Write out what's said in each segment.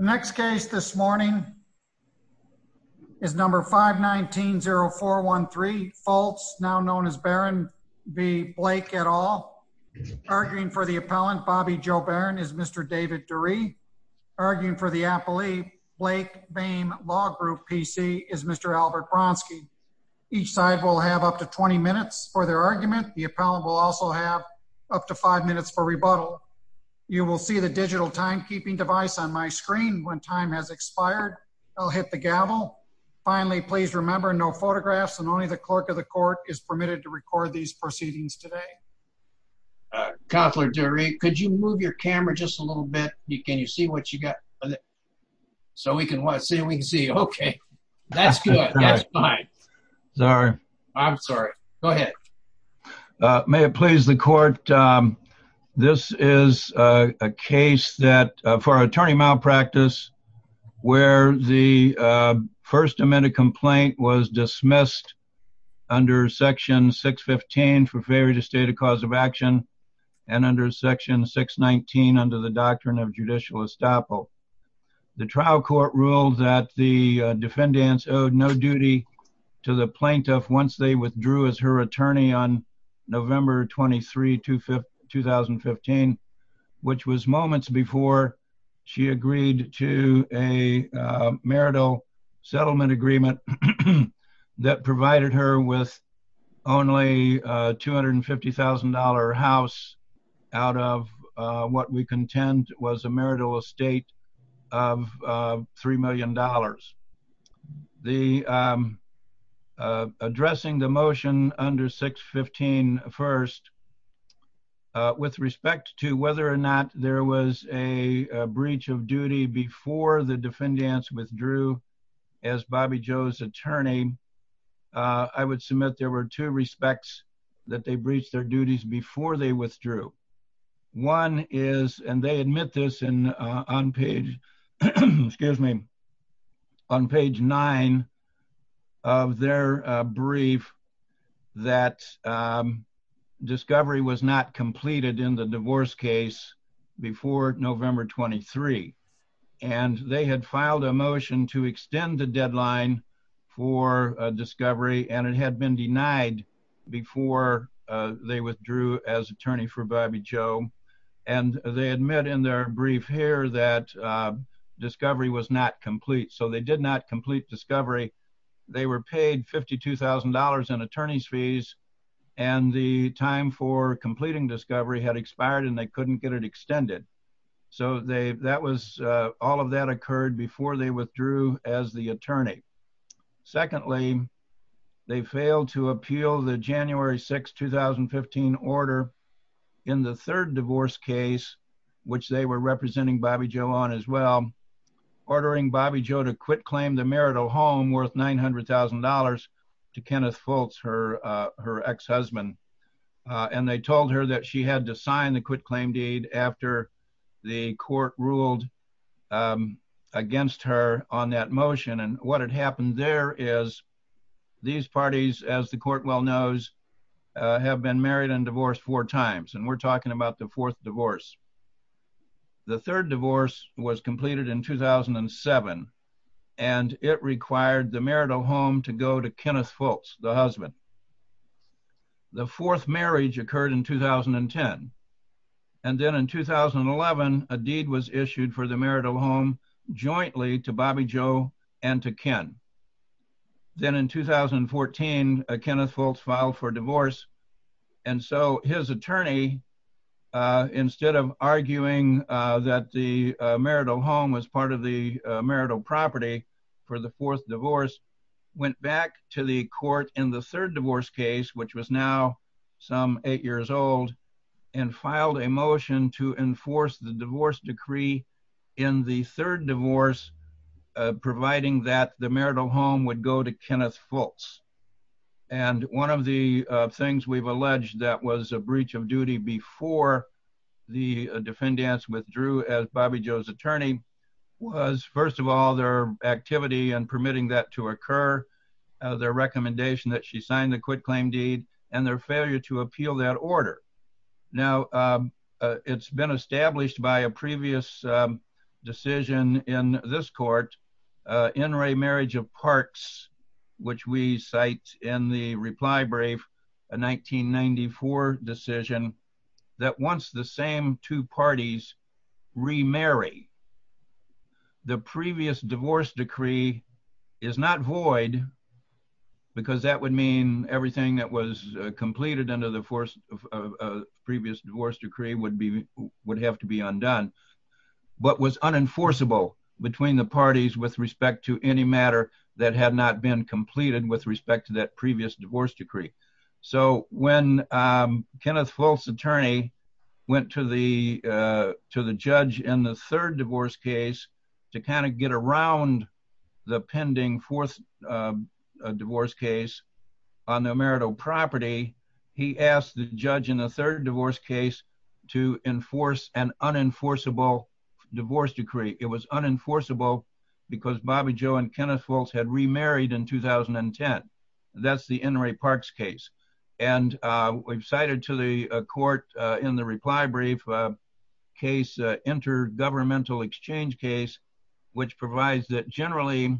et al. Arguing for the appellant, Bobby Joe Barron, is Mr. David Durie. Arguing for the appellee, Blake Boehm Law Group PC, is Mr. Albert Bronski. Each side will have up to 20 minutes for their argument. The appellant will also have up to 5 minutes for rebuttal. You will see the digital timekeeping device on my screen. When time has expired, I'll hit the gavel. Finally, please remember no photographs and only the clerk of the court is permitted to record these proceedings today. Counselor Durie, could you move your camera just a little bit? Can you see what you got? So we can see. Okay. That's good. That's fine. Sorry. I'm sorry. Go ahead. May it please the court. This is a case that for attorney malpractice, where the first amended complaint was dismissed under section 615 for failure to state a cause of action and under section 619 under the doctrine of judicial estoppel. The trial court ruled that the defendants owed no November 23, 2015, which was moments before she agreed to a marital settlement agreement that provided her with only a $250,000 house out of what we contend was a marital estate of $3 million. Addressing the motion under 615 first, with respect to whether or not there was a breach of duty before the defendants withdrew as Bobby Joe's attorney, I would submit there were two respects that they breached their duties before they withdrew. One is, and they admit this on page, excuse me, on page nine of their brief that discovery was not completed in the divorce case before November 23. And they had filed a motion to extend the deadline for discovery and had been denied before they withdrew as attorney for Bobby Joe. And they admit in their brief here that discovery was not complete. So they did not complete discovery. They were paid $52,000 in attorney's fees. And the time for completing discovery had expired and they couldn't get it extended. So they that was all of that occurred before they withdrew as the attorney. Secondly, they failed to appeal the January 6, 2015 order in the third divorce case, which they were representing Bobby Joe on as well. Ordering Bobby Joe to quit claim the marital home worth $900,000 to Kenneth Fultz, her ex-husband. And they told her that she had to sign the quit claim deed after the court ruled against her on that motion. And what had happened there is these parties, as the court well knows, have been married and divorced four times. And we're talking about the fourth divorce. The third divorce was completed in 2007, and it required the marital home to go to Kenneth Fultz, the husband. The fourth marriage occurred in 2010. And then in 2011, a deed was issued for the marital home jointly to Bobby Joe and to Ken. Then in 2014, Kenneth Fultz filed for divorce. And so his attorney, instead of arguing that the marital home was part of the marital property for the fourth divorce, went back to the court in the third divorce case, which was now some eight years old, and filed a motion to enforce the divorce decree in the third divorce, providing that the marital home would go to Kenneth Fultz. And one of the things we've alleged that was a breach of duty before the defendants withdrew as Bobby Joe's attorney was, first of all, their activity in permitting that to occur, their recommendation that she sign the quit claim deed, and their failure to appeal that order. Now, it's been established by a previous decision in this court, in re marriage of parts, which we cite in the reply brief, a 1994 decision, that once the same two parties remarry, the previous divorce decree is not void. Because that would mean everything that was completed under the force of previous divorce decree would be would have to be undone. But was unenforceable between the parties with respect to any matter that had not been completed with respect to that previous divorce decree. So when Kenneth Fultz attorney went to the, to the judge in the third divorce case, to kind of get around the pending fourth divorce case on the marital property, he asked the judge in the third divorce case, to enforce an unenforceable divorce decree, it was unenforceable, because Bobby Joe and Kenneth Fultz had remarried in 2010. That's the NRA parks case. And we've cited to the court in the reply brief case, intergovernmental exchange case, which provides that generally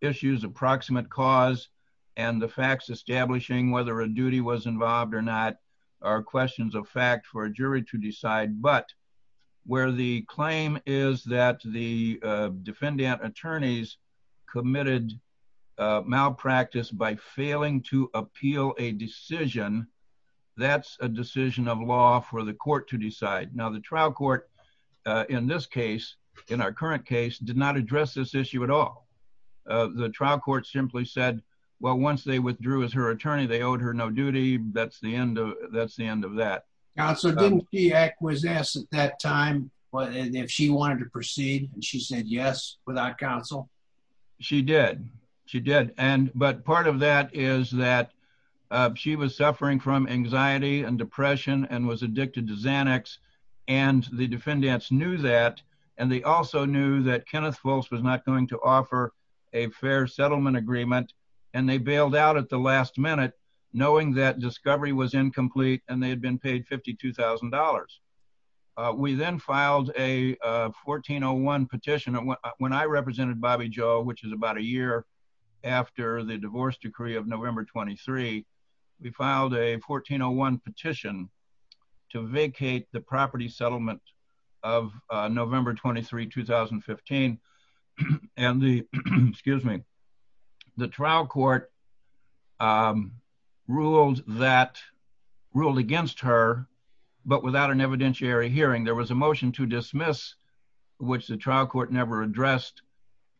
issues approximate cause, and the facts establishing whether a duty was involved or not are questions of fact for a jury to decide. But where the claim is that the defendant attorneys committed malpractice by failing to appeal a decision, that's a decision of law for the court to decide. Now, the trial court, in this case, in our current case, did not address this issue at all. The trial court simply said, well, once they withdrew as her attorney, they owed her no duty. That's the end. That's the end of that. Council didn't be acquiesce at that time. But if she wanted to proceed, she said yes, without counsel. She did. She did. And but part of that is that she was suffering from anxiety and depression and was addicted to Xanax. And the defendants knew that. And they also knew that Kenneth Fultz was not going to offer a fair settlement agreement. And they bailed out at the last minute, knowing that discovery was incomplete and they had been paid $52,000. We then filed a 1401 petition when I represented Bobby Joe, which is about a year after the divorce decree of November 23, we filed a 1401 petition to vacate the property settlement of November 23, 2015. And the excuse me, the trial court ruled that ruled against her. But without an evidentiary hearing, there was a motion to dismiss, which the trial court never addressed.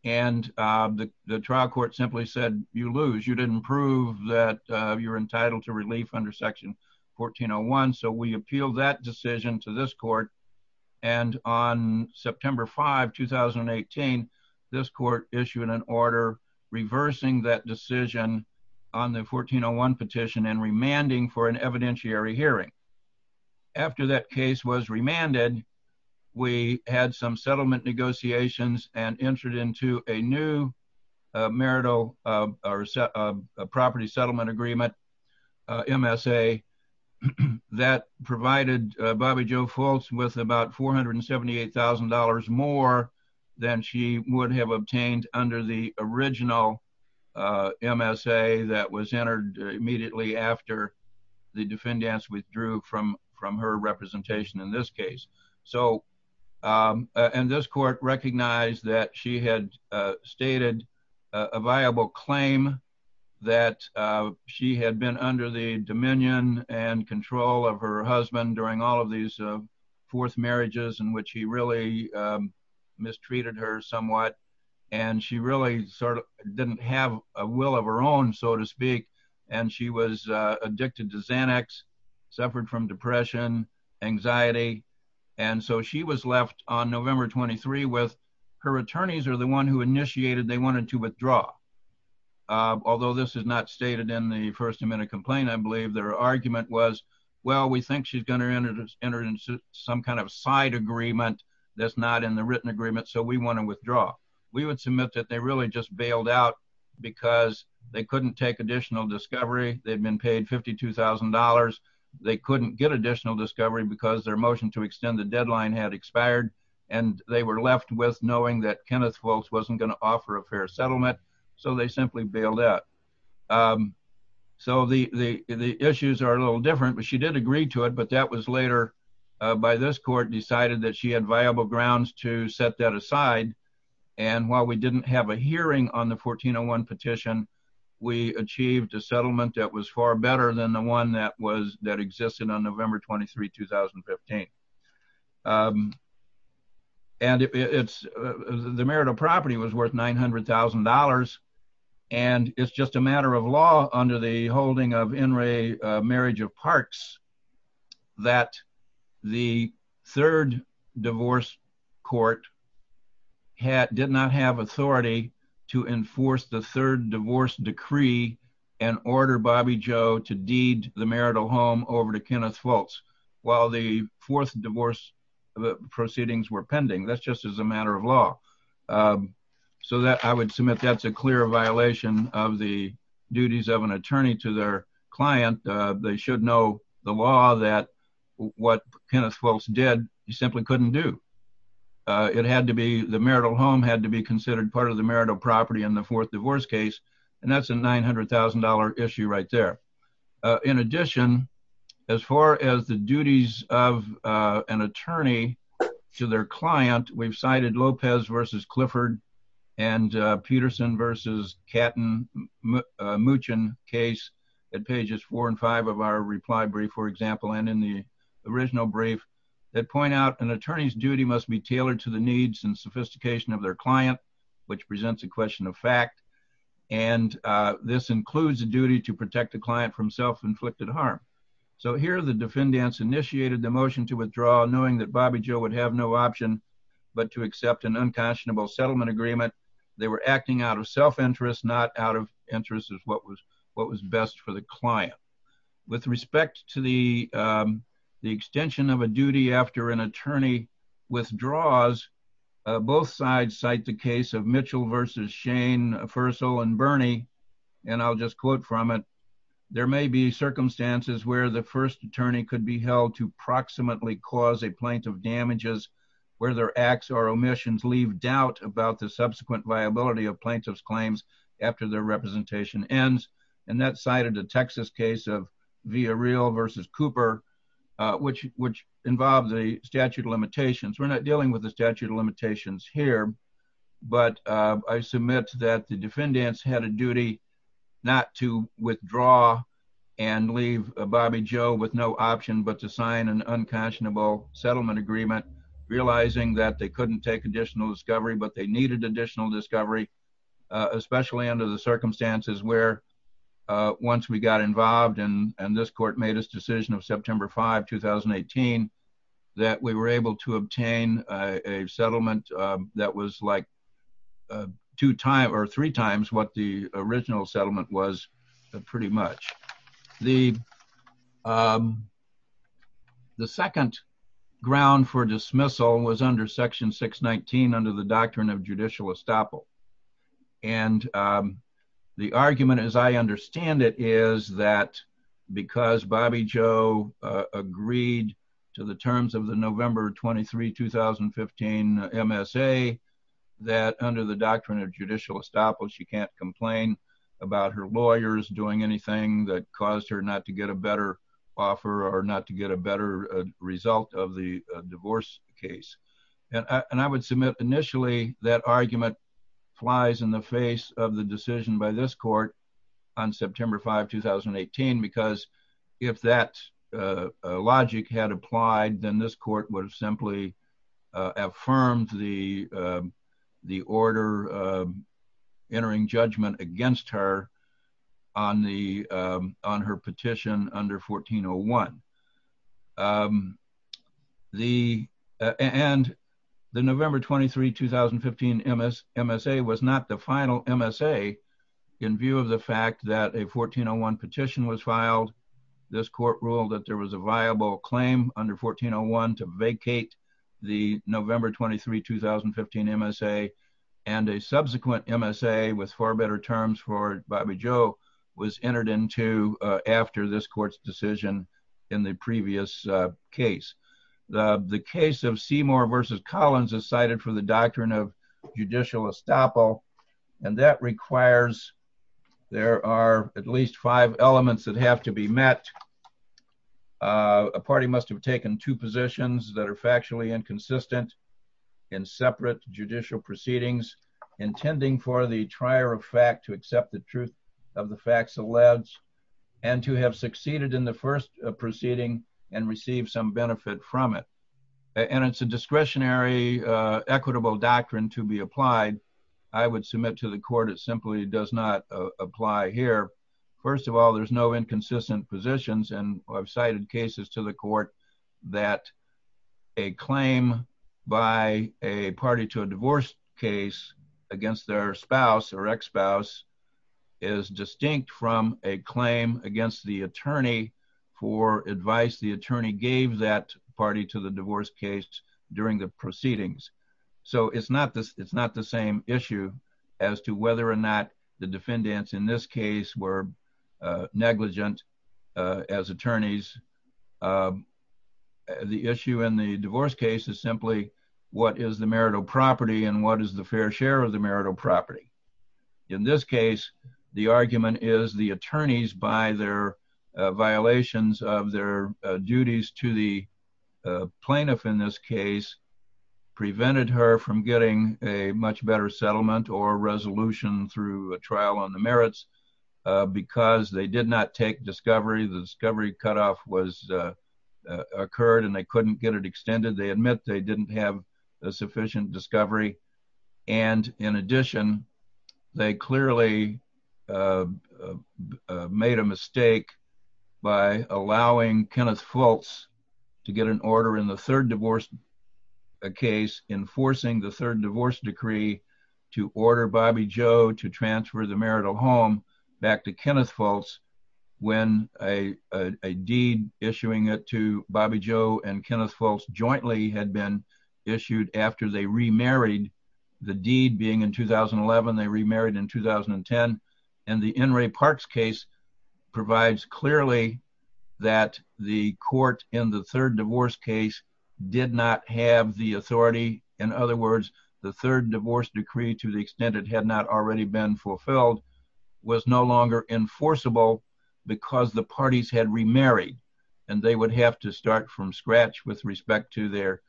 And the trial court simply said, you lose, you didn't prove that you're entitled to relief under Section 1401. So we appeal that decision to this court. And on September 5 2018, this court issued an order reversing that decision on the 1401 petition and remanding for an evidentiary hearing. After that case was remanded, we had some settlement negotiations and entered into a new marital or property settlement agreement MSA that provided Bobby Joe Fultz with about $478,000 more than she would have obtained under the original MSA that was entered immediately after the defendants withdrew from from her representation in this case. So and this court recognized that she had stated a viable claim that she had been under the dominion and control of her husband during all of these fourth marriages in which he really mistreated her somewhat. And she really sort of didn't have a will of her own, so to speak. And she was left on November 23 with her attorneys are the one who initiated they wanted to withdraw. Although this is not stated in the first amendment complaint, I believe their argument was, well, we think she's going to enter into some kind of side agreement that's not in the written agreement. So we want to withdraw. We would submit that they really just bailed out because they couldn't take additional discovery. They've been paid $52,000. They couldn't get additional discovery because their motion to extend the deadline had expired. And they were left with knowing that Kenneth Fultz wasn't going to offer a fair settlement. So they simply bailed out. So the issues are a little different, but she did agree to it. But that was later by this court decided that she had viable grounds to set that aside. And while we didn't have a hearing on the 1401 petition, we achieved a settlement that was far better than the one that existed on November 23, 2015. And the marital property was worth $900,000. And it's just a matter of law under the holding of Inouye Marriage of Parks, that the third divorce court did not have authority to enforce the third divorce decree and order Bobby Joe to over to Kenneth Fultz while the fourth divorce proceedings were pending. That's just as a matter of law. So that I would submit that's a clear violation of the duties of an attorney to their client. They should know the law that what Kenneth Fultz did, he simply couldn't do. It had to be the marital home had to be considered part of the marital property in the fourth divorce case. And that's a $900,000 issue right there. In addition, as far as the duties of an attorney to their client, we've cited Lopez versus Clifford and Peterson versus Katten Muchin case at pages four and five of our reply brief, for example, and in the original brief that point out an attorney's duty must be tailored to the needs and sophistication of their client, which presents a question of fact. And this includes the duty to protect the client from self inflicted harm. So here the defendants initiated the motion to withdraw knowing that Bobby Joe would have no option but to accept an unconscionable settlement agreement. They were acting out of self interest, not out of interest of what was what was best for the client. With of Mitchell versus Shane Fussell and Bernie, and I'll just quote from it. There may be circumstances where the first attorney could be held to proximately cause a plaintiff damages where their acts or omissions leave doubt about the subsequent viability of plaintiff's claims after their representation ends. And that cited a Texas case of via real versus Cooper, which which involves a statute of limitations. We're not dealing with the statute of limitations here. But I submit that the defendants had a duty not to withdraw and leave Bobby Joe with no option but to sign an unconscionable settlement agreement, realizing that they couldn't take additional discovery, but they needed additional discovery, especially under the circumstances where once we got involved in and this court made his decision of September 5 2018 that we were able to obtain a settlement that was like two times or three times what the original settlement was pretty much the The second ground for dismissal was under section 619 under the doctrine of judicial estoppel. And the argument as I understand it is that because Bobby Joe agreed to the terms of the November 23 2015 MSA, that under the doctrine of judicial estoppel, she can't complain about her lawyers doing anything that caused her not to get a better offer or not to get a better result of the divorce case. And I would submit initially that argument flies in the face of the decision by this court on September 5 2018. Because if that logic had applied, then this court would have simply affirmed the the order entering judgment against her on the on her petition under 1401. The and the November 23 2015 MS MSA was not the final MSA. In view of the fact that a 1401 petition was filed, this court ruled that there was a viable claim under 1401 to vacate the subsequent MSA with far better terms for Bobby Joe was entered into after this court's decision in the previous case. The case of Seymour versus Collins is cited for the doctrine of judicial estoppel. And that requires there are at least five elements that have to be met. A party must have taken two positions that are factually inconsistent in separate judicial proceedings, intending for the trier of fact to accept the truth of the facts of labs, and to have succeeded in the first proceeding and receive some benefit from it. And it's a discretionary equitable doctrine to be applied, I would submit to the court, it simply does not apply here. First of all, there's no inconsistent positions and I've cited cases to the court that a claim by a party to a divorce case against their spouse or ex spouse is distinct from a claim against the attorney for advice the attorney gave that party to the divorce case during the proceedings. So it's not this it's not the same issue as to whether or not the defendants in this case were negligent as attorneys. The issue in the divorce case is simply what is the marital property and what is the fair share of the marital property. In this case, the argument is the attorneys by their violations of their duties to the plaintiff in this case, prevented her from getting a much better settlement or resolution through a trial on the merits. Because they did not take discovery, the discovery cut off was occurred and they couldn't get it extended. They admit they didn't have a sufficient discovery. And in addition, they clearly made a mistake by allowing Kenneth Fultz to get an order in the third divorce case, enforcing the third divorce decree to order Bobby Joe to transfer the marital home back to Kenneth Fultz when a deed issuing it to Bobby Joe and Kenneth Fultz jointly had been issued after they remarried. The deed being in 2011, they remarried in 2010. And the In re Parks case provides clearly that the court in the third divorce case did not have the authority. In other words, the third divorce decree to the extent it had not already been fulfilled was no longer enforceable because the parties had remarried and they would have to start from scratch with respect to their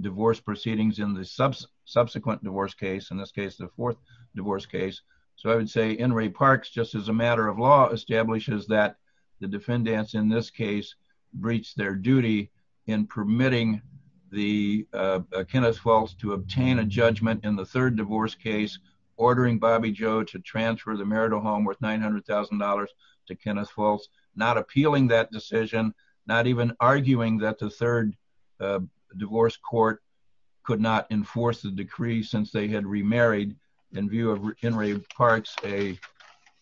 divorce proceedings in the subsequent divorce case, the fourth divorce case. So I would say In re Parks, just as a matter of law, establishes that the defendants in this case breached their duty in permitting the Kenneth Fultz to obtain a judgment in the third divorce case, ordering Bobby Joe to transfer the marital home worth $900,000 to Kenneth Fultz, not appealing that decision, not even arguing that the third divorce court could not enforce the decree since they had remarried in view of In re Parks, a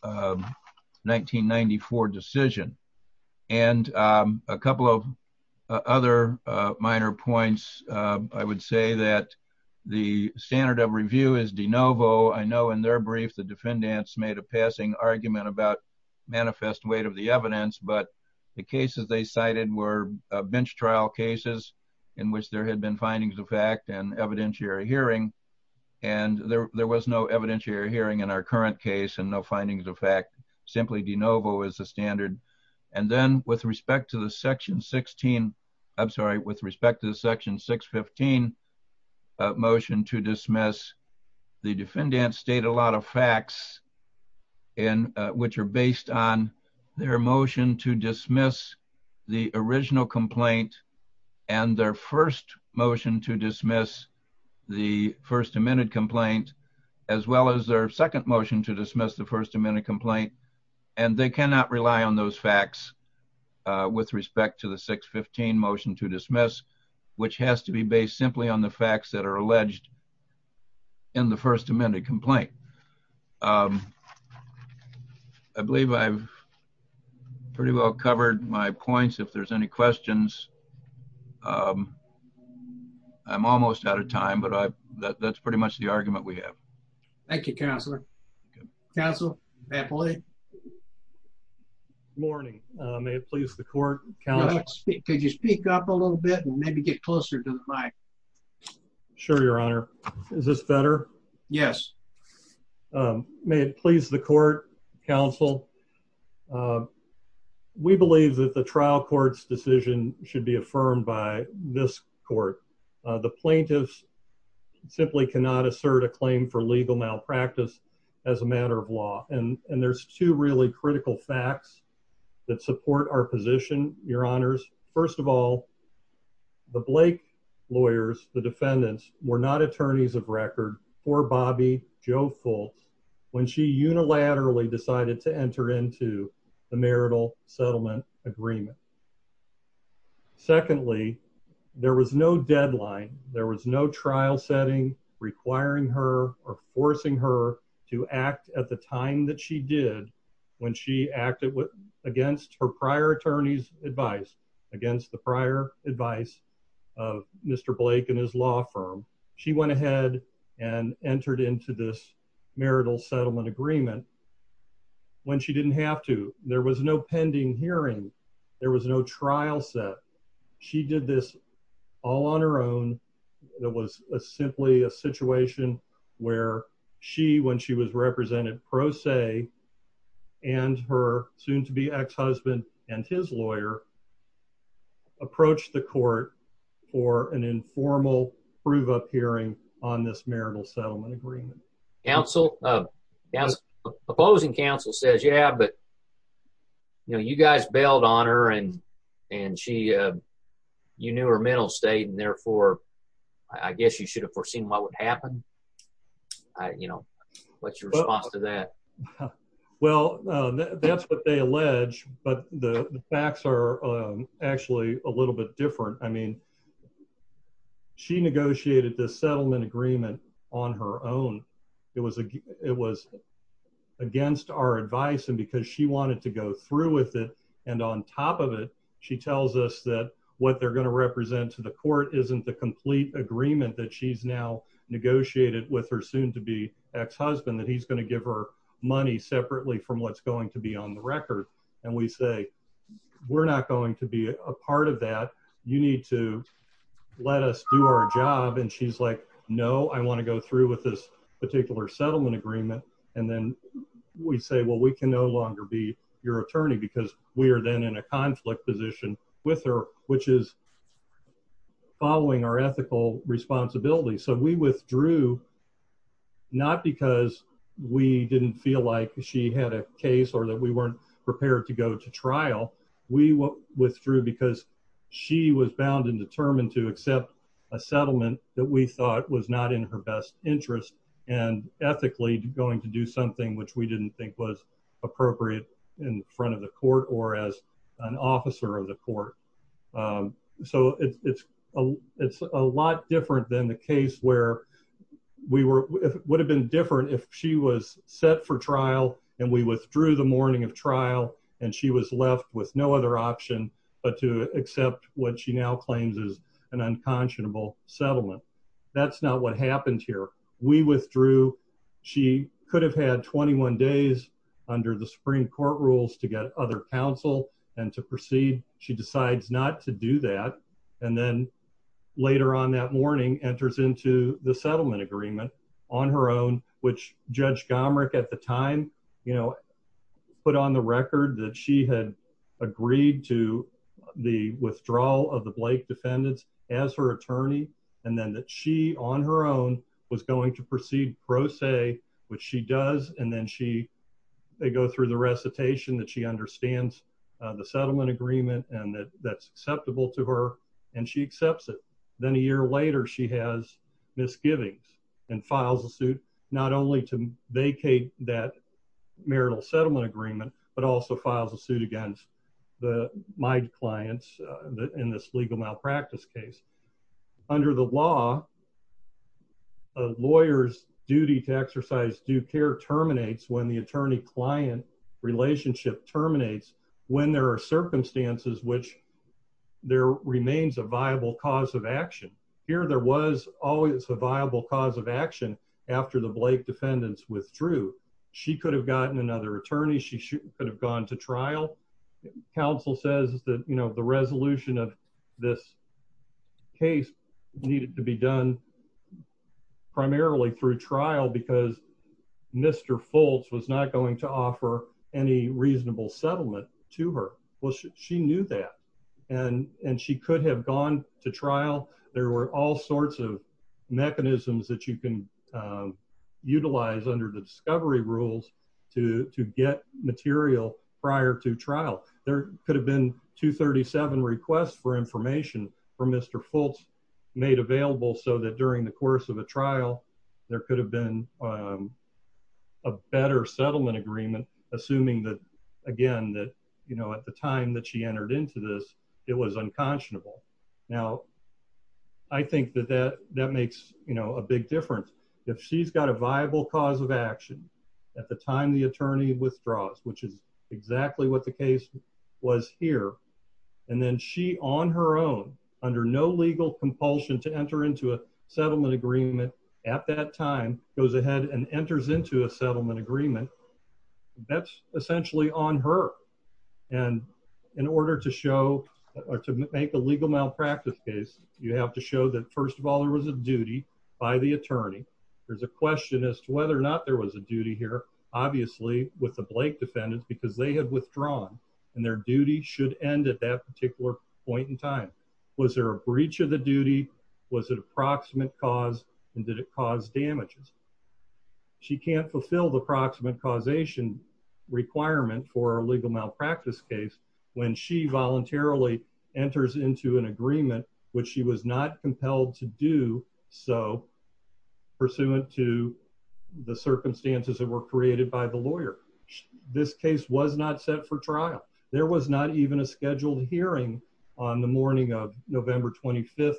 1994 decision. And a couple of other minor points. I would say that the standard of review is de novo. I know in their brief, the defendants made a passing argument about manifest weight of the evidence, but the cases they cited were bench trial cases in which there had been findings of fact and evidentiary hearing. And there was no evidentiary hearing in our current case and no findings of fact. Simply de novo is the standard. And then with respect to the section 16, I'm sorry, with respect to the section 615 motion to dismiss, the defendants state a lot of their motion to dismiss the original complaint and their first motion to dismiss the first amended complaint, as well as their second motion to dismiss the first amended complaint. And they cannot rely on those facts with respect to the 615 motion to dismiss, which has to be based simply on the facts that are alleged in the first amended complaint. Um, I believe I've pretty well covered my points. If there's any questions, um, I'm almost out of time, but that's pretty much the argument we have. Thank you, Counselor. Counsel. Morning. May it please the court. Could you speak up a little bit and maybe get closer to the mic? Sure, Your Honor. Is this better? Yes. May it please the court, Counsel. We believe that the trial court's decision should be affirmed by this court. The plaintiffs simply cannot assert a claim for legal malpractice as a matter of law. And there's two really critical facts that support our position, Your Honors. First of all, the Blake lawyers, the defendants, were not attorneys of record for Bobby Joe Fultz when she unilaterally decided to enter into the marital settlement agreement. Secondly, there was no deadline. There was no trial setting requiring her or forcing her to act at the time that she did when she acted against her prior attorney's advice, against the prior advice of Mr. Blake and his law firm. She went ahead and entered into this marital settlement agreement when she didn't have to. There was no pending hearing. There was no trial set. She did this all on her own. It was simply a situation where she, when she was represented pro se and her soon-to-be ex-husband and his lawyer, approached the court for an informal prove-up hearing on this marital settlement agreement. Counsel, uh, opposing counsel says, yeah, but you know, you guys bailed on her and and she, uh, you knew her mental state and therefore I guess you should have foreseen what would happen. You know, what's your response to that? Well, uh, that's what they allege, but the facts are, um, actually a little bit different. I mean, she negotiated this settlement agreement on her own. It was, it was against our advice and because she wanted to go through with it and on top of it, she tells us that what they're going to represent to the court isn't the complete agreement that she's now negotiated with her soon-to-be ex-husband that he's going to give her money separately from what's going to be on the record. And we say, we're not going to be a part of that. You need to let us do our job. And she's like, no, I want to go through with this particular settlement agreement. And then we say, well, we can no longer be your attorney because we are then in a conflict position with her, which is following our ethical responsibility. So we withdrew not because we didn't feel like she had a case or that we weren't prepared to go to trial. We withdrew because she was bound and determined to accept a settlement that we thought was not in her best interest and ethically going to do something which we didn't think was appropriate in front of the court or as an officer of the court. So it's a lot different than the case where we would have been different if she was set for trial and we withdrew the morning of trial, and she was left with no other option but to accept what she now claims is an unconscionable settlement. That's not what happened here. We withdrew. She could have had 21 days under the Supreme Court rules to get other counsel and to proceed. She decides not to do that. And then later on that morning enters into the settlement agreement on her own, which Judge Gomerick at the time put on the record that she had agreed to the withdrawal of the Blake defendants as her attorney, and then that she on her own was going to proceed pro se, which she does. And then they go through the recitation that she understands the settlement agreement and that's acceptable to her, and she accepts it. Then a year later, she has misgivings and files a suit not only to vacate that marital settlement agreement, but also files a suit against my clients in this legal malpractice case. Under the law, a lawyer's duty to exercise due care terminates when the attorney-client relationship terminates when there are circumstances which there remains a viable cause of action. Here there was always a viable cause of action after the Blake defendants withdrew. She could have gotten another attorney. She could have gone to trial. Counsel says that, you know, the resolution of this case needed to be done primarily through trial because Mr. Fultz was not going to offer any reasonable settlement to her. Well, she knew that, and she could have gone to trial. There were all sorts of mechanisms that you can utilize under the discovery rules to get material prior to trial. There could have been 237 requests for information from Mr. Fultz made available so that during the course of a trial, there could have been a better settlement agreement, assuming that, again, that, you know, at the time that she entered into this, it was unconscionable. Now, I think that that makes, you know, a big difference. If she's got a viable cause of action at the time the attorney withdraws, which is exactly what the case was here, and then she on her own under no legal compulsion to enter into a settlement agreement at that time goes ahead and enters into a settlement agreement, that's essentially on her. And in order to show or to make a legal malpractice case, you have to show that, first of all, there was a duty by the attorney. There's a question as to whether or not there was a duty here, obviously, with the Blake defendants, because they had withdrawn, and their duty should end at that particular point in time. Was there a breach of the duty? Was it approximate cause? And did it cause damages? She can't fulfill the proximate causation requirement for a legal malpractice case when she voluntarily enters into an agreement, which she was not compelled to do so, pursuant to the circumstances that were created by the lawyer. This case was not set for trial. There was not even a scheduled hearing on the morning of November 25,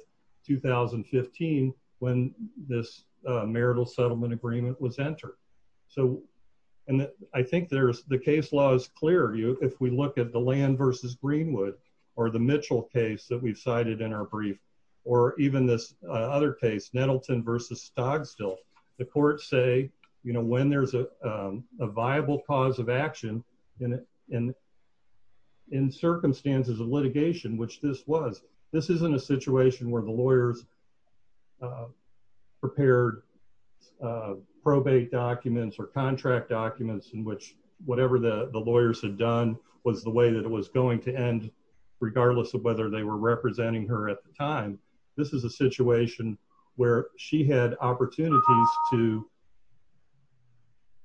2015, when this marital settlement agreement was entered. So, and I think there's the case law is clear. If we look at the land versus Greenwood, or the Mitchell case that we've cited in our case, Nettleton versus Stogstill, the courts say, you know, when there's a viable cause of action, and in circumstances of litigation, which this was, this isn't a situation where the lawyers prepared probate documents or contract documents in which whatever the lawyers had done was the way that it was going to end, regardless of whether they were representing her at the time. This is a situation where she had opportunities to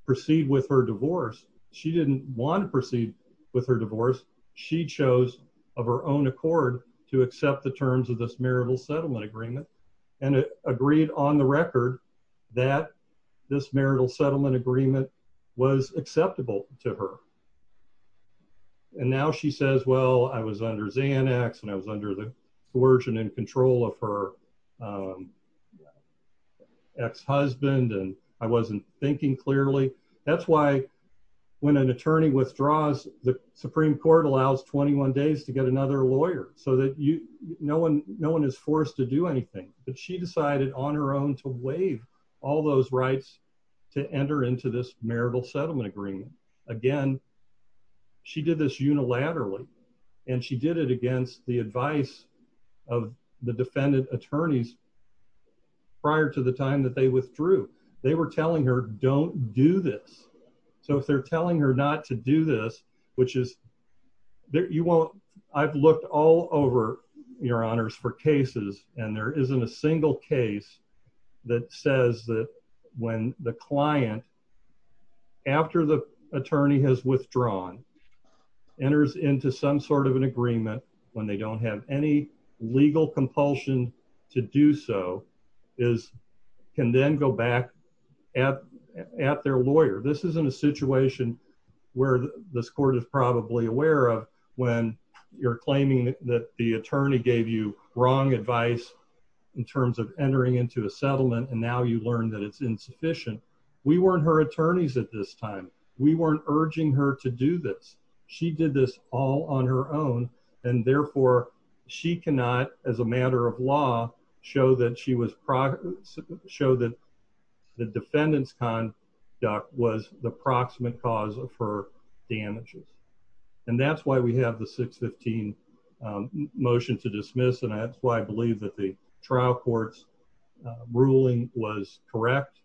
proceed with her divorce. She didn't want to proceed with her divorce. She chose of her own accord to accept the terms of this marital settlement agreement, and agreed on the record that this marital settlement agreement was acceptable to her. And now she says, well, I was under Xanax, and I was under the coercion and control of her ex-husband, and I wasn't thinking clearly. That's why, when an attorney withdraws, the Supreme Court allows 21 days to get another lawyer, so that you, no one, no one is forced to do anything. But she decided on her own to waive all those rights to enter into this marital settlement agreement. Again, she did this unilaterally, and she did it against the advice of the defendant attorneys prior to the time that they withdrew. They were telling her, don't do this. So if they're telling her not to do this, which is, you won't, I've looked all over, your honors, for cases, and there isn't a single case that says that when the client, after the attorney has withdrawn, enters into some sort of an agreement, when they don't have any legal compulsion to do so, is, can then go back at their lawyer. This isn't a situation where this court is probably aware of, when you're claiming that the attorney gave you wrong advice in terms of entering into a settlement, and now you learn that it's insufficient. We weren't her attorneys at this time. We weren't urging her to do this. She did this all on her own, and therefore, she cannot, as a matter of law, show that she was, show that the defendant's conduct was the proximate cause of her damages. And that's why we have the 615 motion to dismiss, and that's why I believe that the trial court's ruling was correct.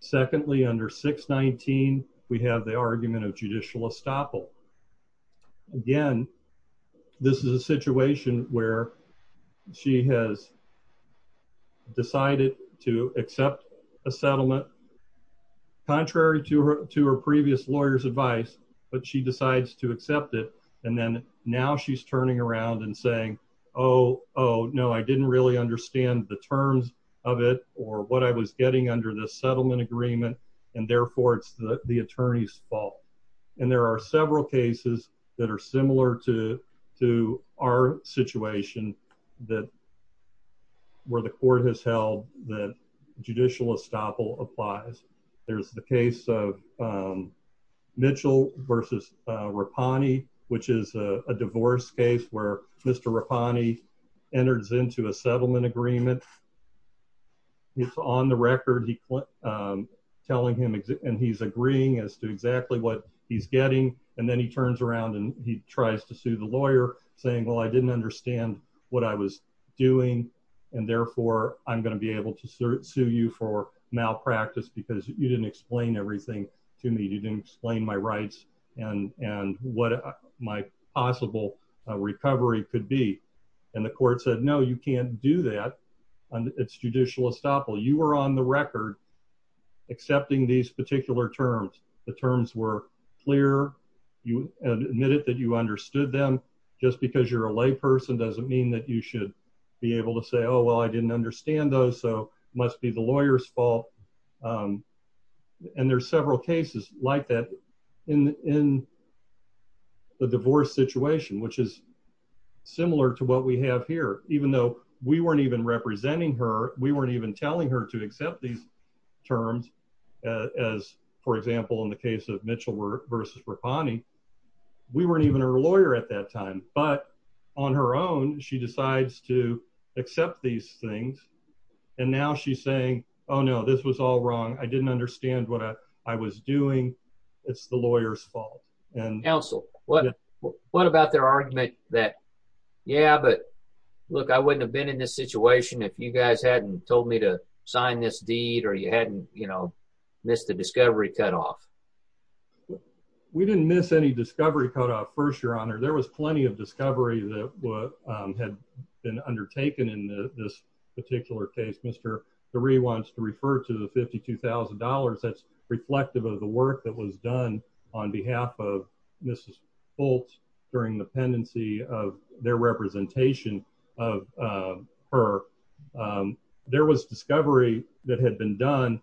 Secondly, under 619, we have the argument of judicial estoppel. Again, this is a situation where she has decided to accept a settlement, contrary to her previous lawyer's advice, but she decides to accept it, and then now she's turning around and saying, oh, no, I didn't really understand the terms of it or what I was getting under this settlement agreement, and therefore, it's the attorney's fault. And there are several cases that are similar to our situation that where the court has held that judicial estoppel applies. There's the case of Mitchell versus Rapani, which is a divorce case where Mr. Rapani enters into a settlement agreement. It's on the record. He's telling him, and he's agreeing as to exactly what he's getting, and then he turns around and he tries to sue the lawyer, saying, well, I didn't understand what I was doing, and therefore, I'm going to be able to sue you for malpractice because you didn't explain everything to me. You didn't explain my rights and what my possible recovery could be, and the court said, no, you can't do that. It's judicial estoppel. You were on the record accepting these particular terms. The terms were clear. You admitted that you understood them. Just because you're a layperson doesn't mean that you should be able to say, oh, well, I didn't understand those, so it must be the lawyer's fault. And there's several cases like that in the divorce situation, which is similar to what we have here. Even though we weren't even representing her, we weren't even telling her to accept these terms as, for example, in the case of Mitchell v. Rapani, we weren't even her lawyer at that time, but on her own, she decides to accept these things, and now she's saying, oh, no, this was all wrong. I didn't understand what I was doing. It's the lawyer's fault. Counsel, what about their argument that, yeah, but look, I wouldn't have been in this situation if you guys hadn't told me to sign this deed or you hadn't, you know, missed the discovery cutoff? We didn't miss any discovery cutoff, first, Your Honor. There was plenty of discovery that had been undertaken in this particular case. Mr. DeRee wants to refer to the $52,000. That's reflective of the work that was done on behalf of Mrs. Fultz during the pendency of their representation of her. There was discovery that had been done.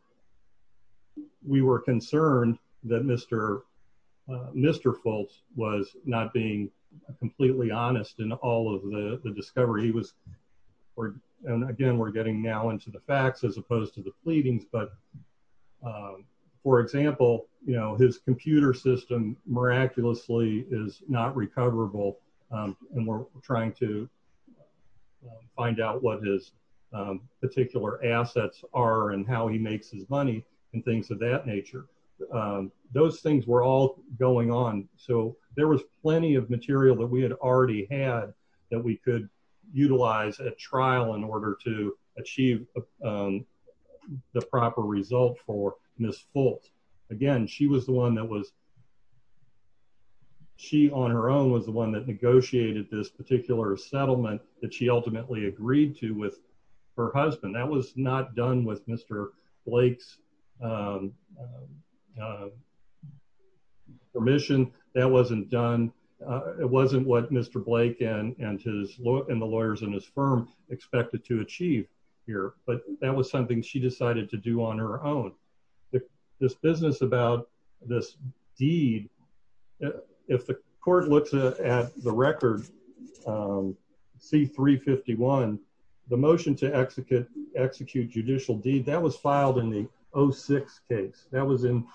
We were concerned that Mr. Fultz was not being completely honest in all of the discovery. He was, and again, we're getting now into the facts as opposed to the pleadings, but for example, you know, his computer system miraculously is not recoverable, and we're trying to find out what his particular assets are and how he makes his money and things of that nature. Those things were all going on, so there was plenty of material that we had already had that we could utilize at trial in order to achieve the proper result for Ms. Fultz. Again, she was the one that was, she on her own was the one that negotiated this particular settlement that she ultimately agreed to with her husband. That was not done with Mr. Blake's permission. That wasn't done, it wasn't what Mr. Blake and his, and the lawyers in his firm expected to achieve here, but that was something she decided to do on her own. This business about this deed, if the court looks at the record, C-351, the motion to execute judicial deed, that was filed in the 06 case. That was in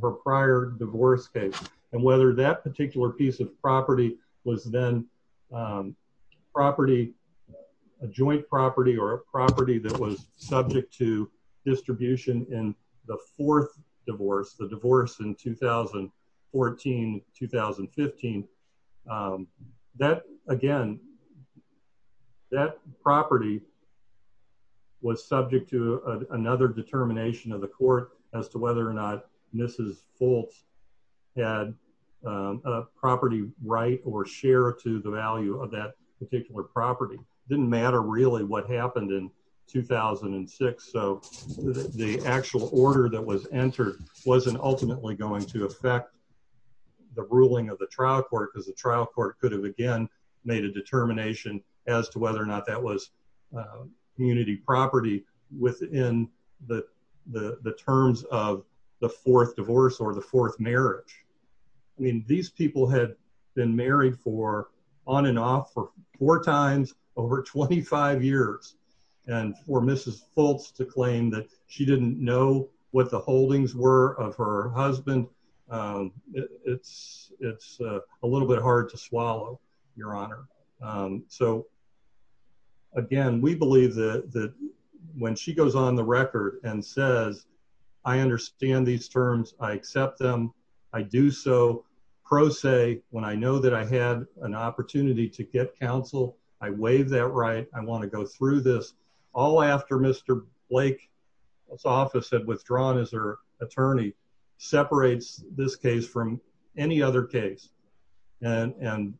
her prior divorce case, and whether that particular piece of property was then property, a joint property or a property that was the fourth divorce, the divorce in 2014-2015, that again, that property was subject to another determination of the court as to whether or not Mrs. Fultz had a property right or share to the value of that particular property. It didn't matter really what happened in 2006. The actual order that was entered wasn't ultimately going to affect the ruling of the trial court because the trial court could have again made a determination as to whether or not that was community property within the terms of the fourth divorce or the fourth marriage. I mean, these people had been married for on and off for four times over 25 years, and for Mrs. Fultz to claim that she didn't know what the holdings were of her husband, it's a little bit hard to swallow, Your Honor. So again, we believe that when she goes on the pro se, when I know that I had an opportunity to get counsel, I waive that right. I want to go through this all after Mr. Blake's office had withdrawn as her attorney, separates this case from any other case. And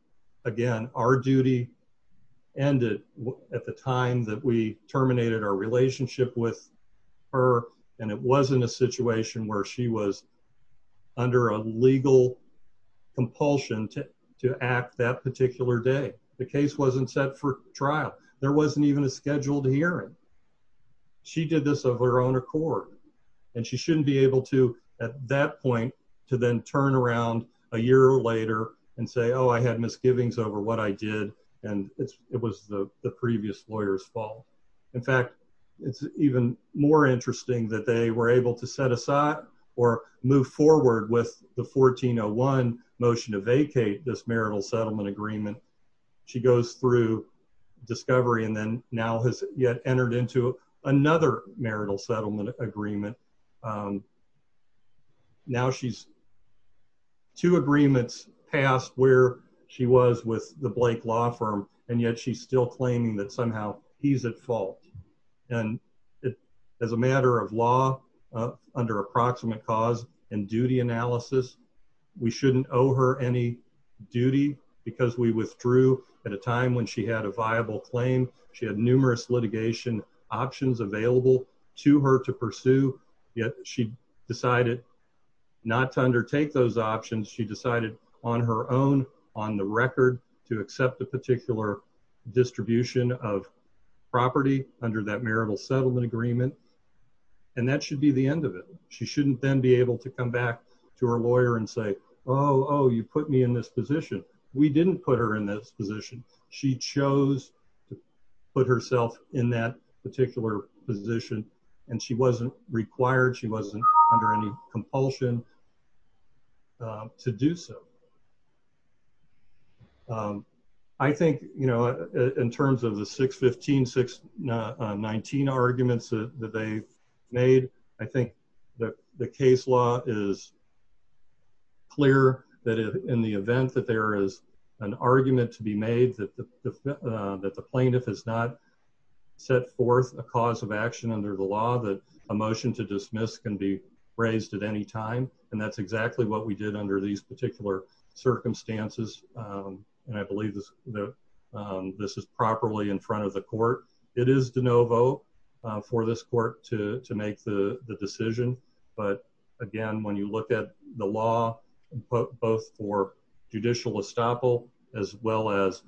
again, our duty ended at the time that we terminated our relationship with her. And it wasn't a situation where she was under a legal compulsion to act that particular day. The case wasn't set for trial. There wasn't even a scheduled hearing. She did this of her own accord. And she shouldn't be able to at that point to then turn around a year later and say, oh, I had misgivings over what I did. And it was the previous lawyer's fault. In fact, it's even more interesting that they were able to set aside or move forward with the 1401 motion to vacate this marital settlement agreement. She goes through discovery and then now has yet entered into another marital settlement agreement. Now she's two agreements past where she was with the and as a matter of law under approximate cause and duty analysis, we shouldn't owe her any duty because we withdrew at a time when she had a viable claim. She had numerous litigation options available to her to pursue. Yet she decided not to undertake those options. She decided on her own on the record to accept a particular distribution of property under that marital settlement agreement. And that should be the end of it. She shouldn't then be able to come back to her lawyer and say, oh, you put me in this position. We didn't put her in this position. She chose to put herself in that particular position and she wasn't required. She wasn't under any compulsion to do so. I think in terms of the 615, 619 arguments that they've made, I think the case law is clear that in the event that there is an argument to be made that the plaintiff has not set forth a cause of action under the law, that a motion to dismiss can be raised at any time. And that's exactly what we did under these particular circumstances. And I believe that this is properly in front of the court. It is the no vote for this court to make the decision. But again, when you look at the law, both for judicial estoppel, as well as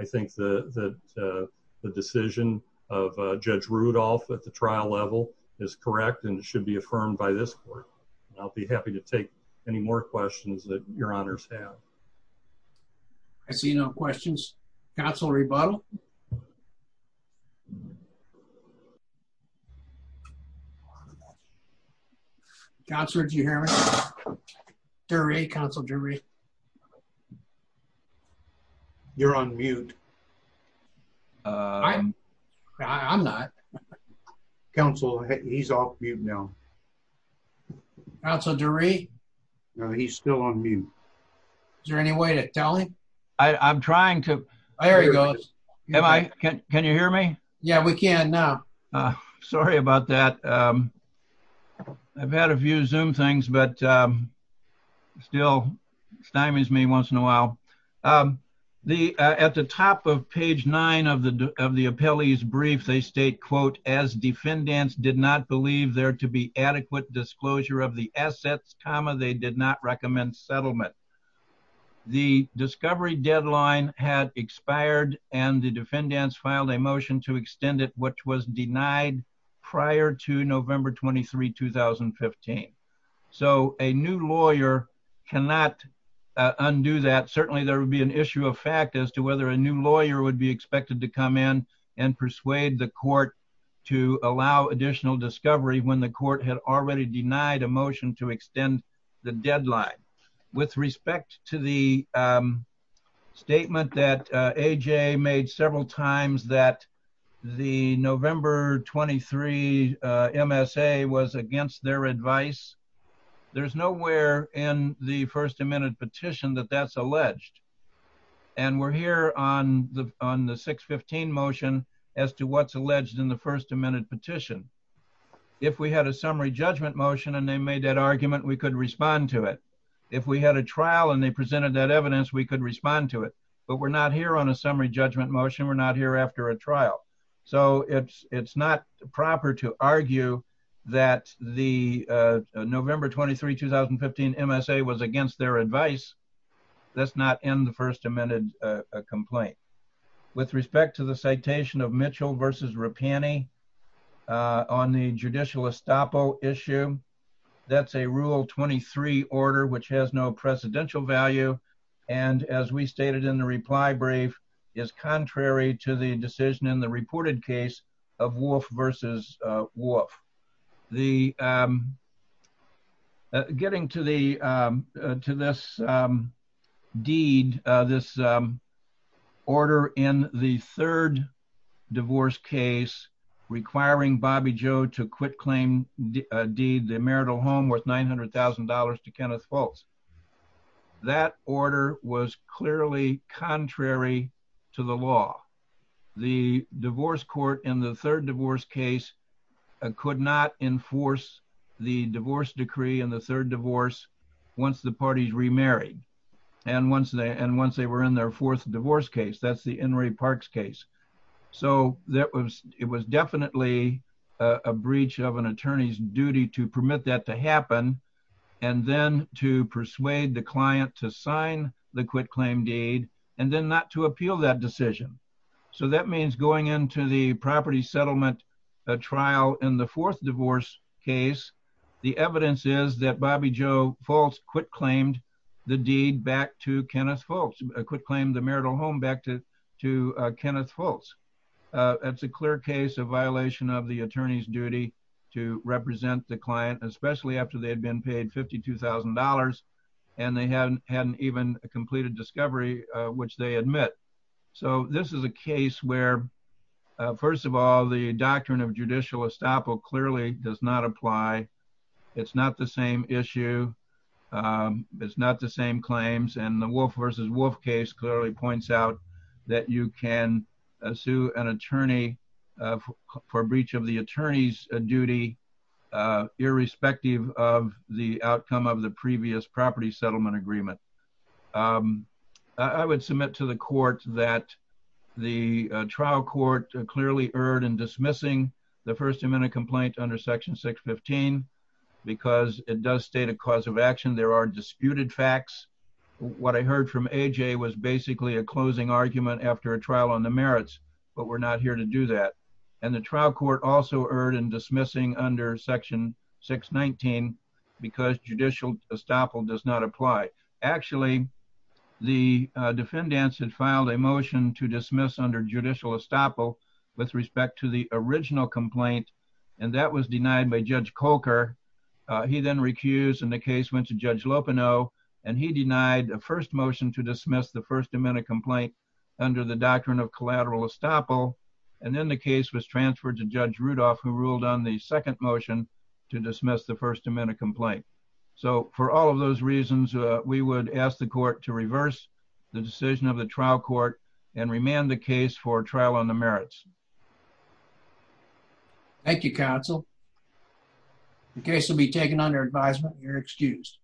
I think the, the, uh, the decision of, uh, judge Rudolph at the trial level is correct. And it should be affirmed by this court. And I'll be happy to take any more questions that your honors have. I see no questions. That's all rebuttal. God's word. You hear me during a council jury. You're on mute. I'm not council. He's off mute now. That's a jury. No, he's still on mute. Is there any way to tell him? I'm trying to, I hear you guys. Can you hear me? Yeah, we can now. Sorry about that. Um, I've had a few zoom things, but, um, still stymies me once in a while. Um, the, uh, at the top of page nine of the, of the appellee's brief, they state quote, as defendants did not believe there to be adequate disclosure of the assets, comma, they did not recommend settlement. The discovery deadline had expired and the defendants filed a motion to extend it, which was denied prior to November 23, 2015. So a new lawyer cannot undo that. Certainly there would be an issue of fact as to whether a new lawyer would be expected to come in and persuade the court to allow additional discovery when the court had already denied a motion to extend the deadline with respect to the, um, statement that, uh, AJ made several times that the November 23, uh, MSA was against their advice. There's nowhere in the first amendment petition that that's alleged. And we're here on the, on the six 15 motion as to what's alleged in the first amendment petition. If we had a summary judgment motion and they made that argument, we could respond to it. If we had a trial and they presented that evidence, we could respond to it, but we're not here on a summary judgment motion. We're not here after a trial. So it's, it's not proper to argue that the, uh, November 23, 2015 MSA was against their advice. That's not in the first amendment, uh, complaint with respect to the citation of Mitchell versus Rapani, uh, on the judicial estoppel issue. That's a rule 23 order, which has no presidential value. And as we stated in the reply brief is contrary to the decision in the reported case of Wolf versus, uh, Wolf the, um, uh, getting to the, um, uh, to this, um, deed, uh, this, um, order in the third divorce case requiring Bobby Joe to quit claim deed, the marital home worth $900,000 to was clearly contrary to the law. The divorce court in the third divorce case could not enforce the divorce decree and the third divorce once the parties remarried. And once they, and once they were in their fourth divorce case, that's the Henry parks case. So that was, it was definitely a breach of an attorney's duty to permit that to happen. And then to persuade the client to sign the quit claim deed, and then not to appeal that decision. So that means going into the property settlement, uh, trial in the fourth divorce case, the evidence is that Bobby Joe false quit claimed the deed back to Kenneth folks, a quick claim, the marital home back to, to, uh, Kenneth false. Uh, it's a clear case of paid $52,000 and they hadn't, hadn't even completed discovery, uh, which they admit. So this is a case where, uh, first of all, the doctrine of judicial estoppel clearly does not apply. It's not the same issue. Um, it's not the same claims and the wolf versus wolf case clearly points out that you can sue an attorney, uh, for breach of the attorney's duty, uh, irrespective of the outcome of the previous property settlement agreement. Um, I would submit to the court that the trial court clearly erred in dismissing the first amendment complaint under section six 15, because it does state a cause of action. There are disputed facts. What I heard from AJ was basically a closing argument after a trial on the merits, but we're not here to do that. And the trial court also erred in dismissing under section six 19 because judicial estoppel does not apply. Actually the defendants had filed a motion to dismiss under judicial estoppel with respect to the original complaint. And that was denied by judge Coker. Uh, he then recused and the case went to judge Lopino and he denied a first motion to dismiss the first amendment complaint under the doctrine of collateral estoppel. And then the case was transferred to judge Rudolph who ruled on the second motion to dismiss the first amendment complaint. So for all of those reasons, uh, we would ask the court to reverse the decision of the trial court and remand the case for trial on the merits. Thank you counsel. The case will be taken under advisement. You're excused.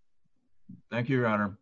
Thank you, your honor.